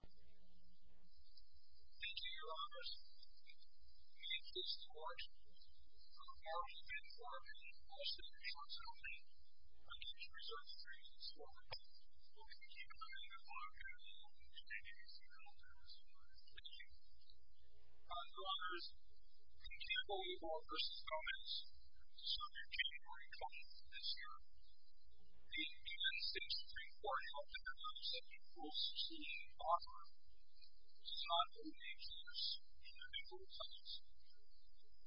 Thank you, your honors. Meet Mr. George. He's from the Marble Pit Farm in Austin, New York County. I gave his research three years ago. Well, thank you. Good luck. Good luck to you. Thank you. Thank you. Thank you. Your honors, I can't believe all of this is comments. So, new January comment this year. The Indian State Supreme Court held that there were no such rules to see, offer, sign, or make use of individual funds.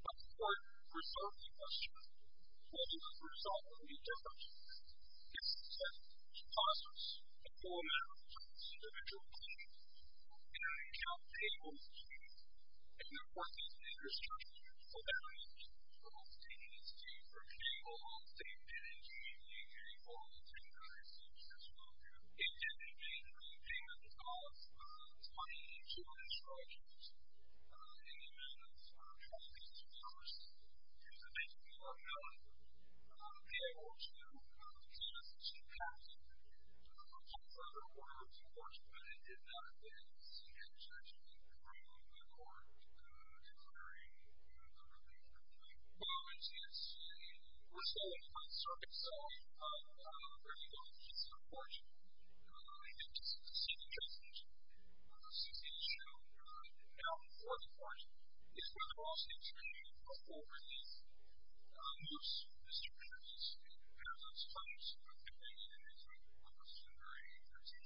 But the court resolved the question, what is the result of these efforts? It said, to cost us a full amount of funds, individual claims, any job payable, and the working age restrictions for that age. The Indian State Supreme Court, the Indian State Indian Community Committee, followed the same kind of research that you all do. In January, we came up with a cost of $22,000, in the amount of $12,000, which is basically what I'm talking about, to be able to get us a state cap, which I don't want to overcharge, but it did not, Do you think,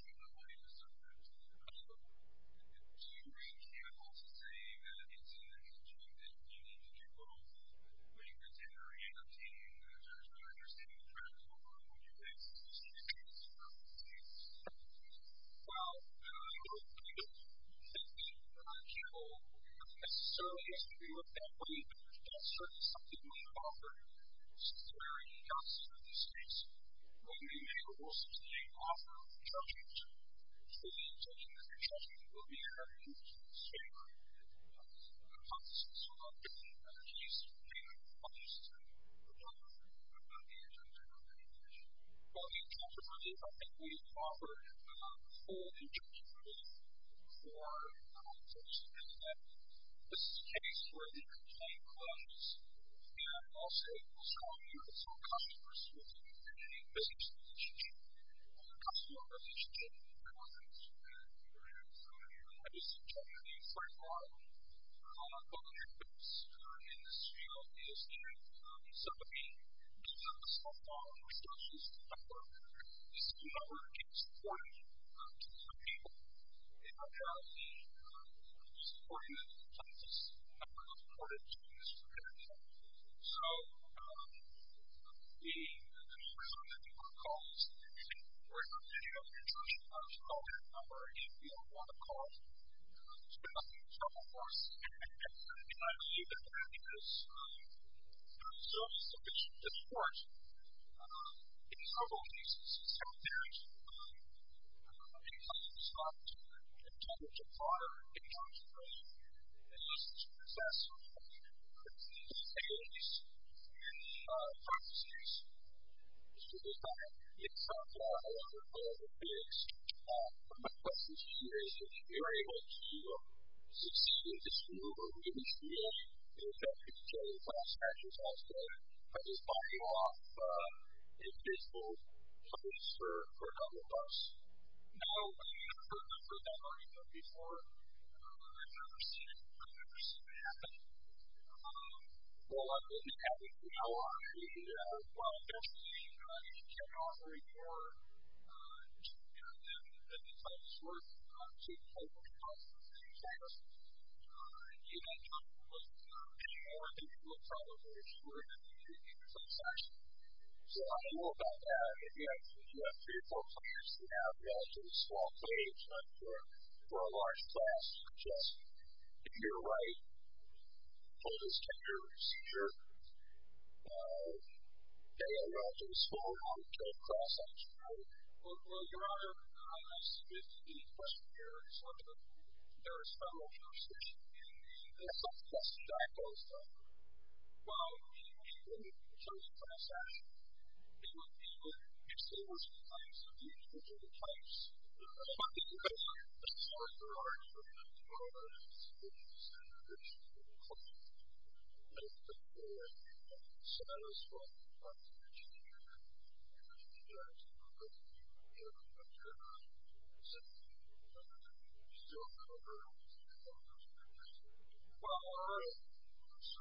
and I'd also say that it's an issue that you need to deal with, when you're in January, and I'm seeing that there's not an understanding of travel, what would you think, is this an issue that's relevant to the Indian State Supreme Court? Well, I don't think that it's an issue that I'm capable of, necessarily, as to be looked at, but even if there's just certain substantive means of offering, it's very unconstitutional in this case. What we may or will sustain, offer, charges, so the intention, as you're suggesting, would be to have you say, what are the consequences, what are the different penalties, and what are the costs, and what are the other things, what are the incentives, and what are the other things? Well, the incentive for this, I think we've offered, a full injunction, really, for folks to know that, this is a case where the complaint comes, and also, some customers, with a business relationship, or a customer relationship, or whatever it is, and, I just suggest that you first of all, call up both of your clients, in this field, because even, some of the, because of the softball, most cases, the network, the system network, it's important, to the people. It might have the, it's important that the plaintiffs, have a lot of courage, in this particular case. So, the, the first thing that you want to call is, we're in the middle of an injunction, so call that number, if you don't want to call, so you're not going to be in trouble, of course. And, and I believe that, because, there's still sufficient discourse, in several cases, several theories, in some cases, it's not intended to fire, it's not intended, it's just to assess, some of the, the capabilities, and, the practices, just to decide, it's, it's a, a lot of, a lot of ethics, a lot of questions here, is if you're able to, is this, is this rule, or do you feel, that it's actually, it's actually a class action, it's also, that it's buying off, a visible, place for, for another bus? No, I've heard that argument before, I've never seen, I've never seen it happen, so, so I'm going to have to, you know, I, I definitely, I definitely cannot agree more, to, than, than the title's worth, to quote, the title, of this class, you know, you don't have to look, you don't have to look any more, than you would probably, if you were in a, if you were in a class action, so, I don't know about that, if you have, if you have three or four players, you have, you know, it's a small play, it's not for, for a large class, it's just, if you're right, hold as tender, secure, and whether it's, hey I wrote a small non general cross edge, or you know, your honor I unmised the question there and slipped it, to there following the discussion hey, some stuff just died on the spot, well I was reading matriculation, matriculation class action, do you, do you exclude these types or do you exclude these types, what do you guys say, this is sort of overarching, the moral of this is, it's the, the religious class, and it's the very unsatisfying part of the teacher, and I think that's the most, you know, generally, said, you still cover, you still cover those and you guys are like, well alright, so,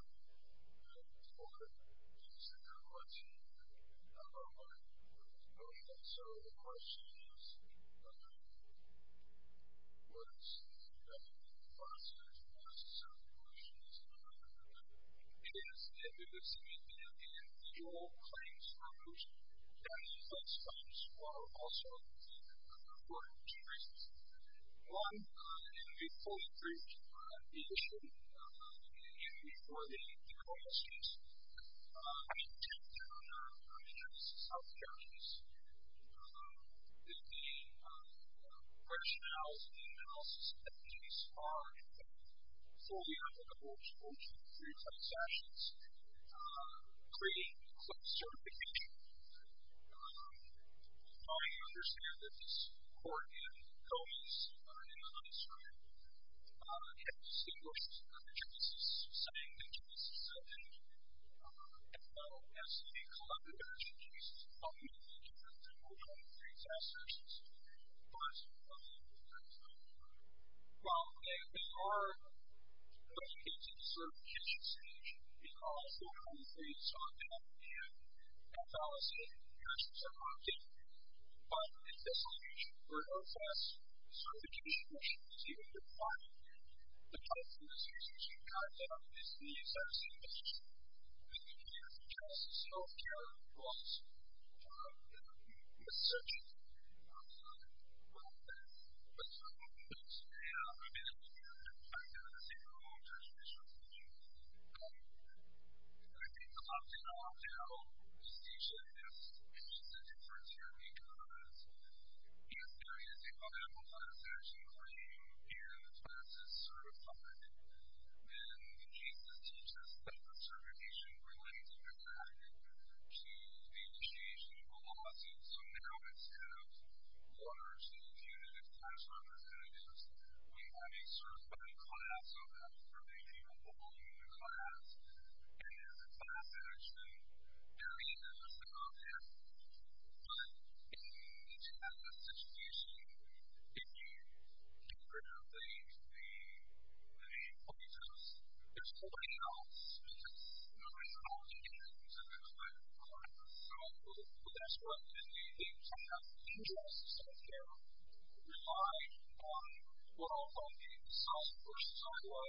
and for, it's a good question, and I don't want to, I don't want to answer the questions, that, that, that's, that's, that's the class that's it is, it is, you know, individual claims for those, that, those claims are also important reasons. One, and to be fully proofed, the issue, you know, before the, before the questions, I mean, 10 of them are, are, are, are South Caribbean's, the, the, the rationales, the analysis entities are, you know, fully applicable to, to pre-claims actions, creating claims certification. How do you understand that this court, in Gomez, in the, on this side, had distinguished the cases, setting the cases, and, and now, as a collective action case, ultimately, you have to move on to pre-claims actions. What, what, what, what, well, you know, there are, those cases, cerification, certification is also countries on top, we have — Atlas and Yerkes and Hopkin. But, if it's election, where OFS certification which you see on your product, the kinds of decisions you can have about these, these types of decisions, which you can hear from Justice Healthcare Laws, and admissions, are concerned about that, but some states, yeah, I've been able to hear it, I've been able to see it from a lot of jurisdictions, and I think a lot of people don't often know the distinction, it's just a difference here, because in this area, they call it Apple Class Action, where you give classes, certified, and the cases teach us that the certification relates, or is attached, to the initiation of a lawsuit, so now it's kind of one of our state's united class representatives, we have a certified class, so that's for the capable human class, and it's a class that has been very innovative out there, but in each kind of situation, if you do certain things, the the police is there's nobody else, because nobody's calling in, so there's like, a lot of people, so that's what the the kind of interests out there rely on quote-unquote the software silo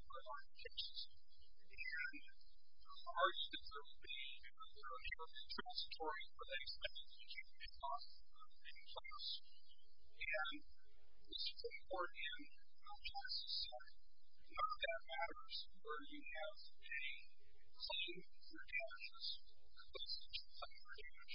program architecture, and our architecture will be a little more transitory for the expected human class, and this framework in our class is a little transitory our class is a little more transitory for the expected human class, and this framework in our class is a our class is a little more transitory for the expected human class, and this framework in our class is a little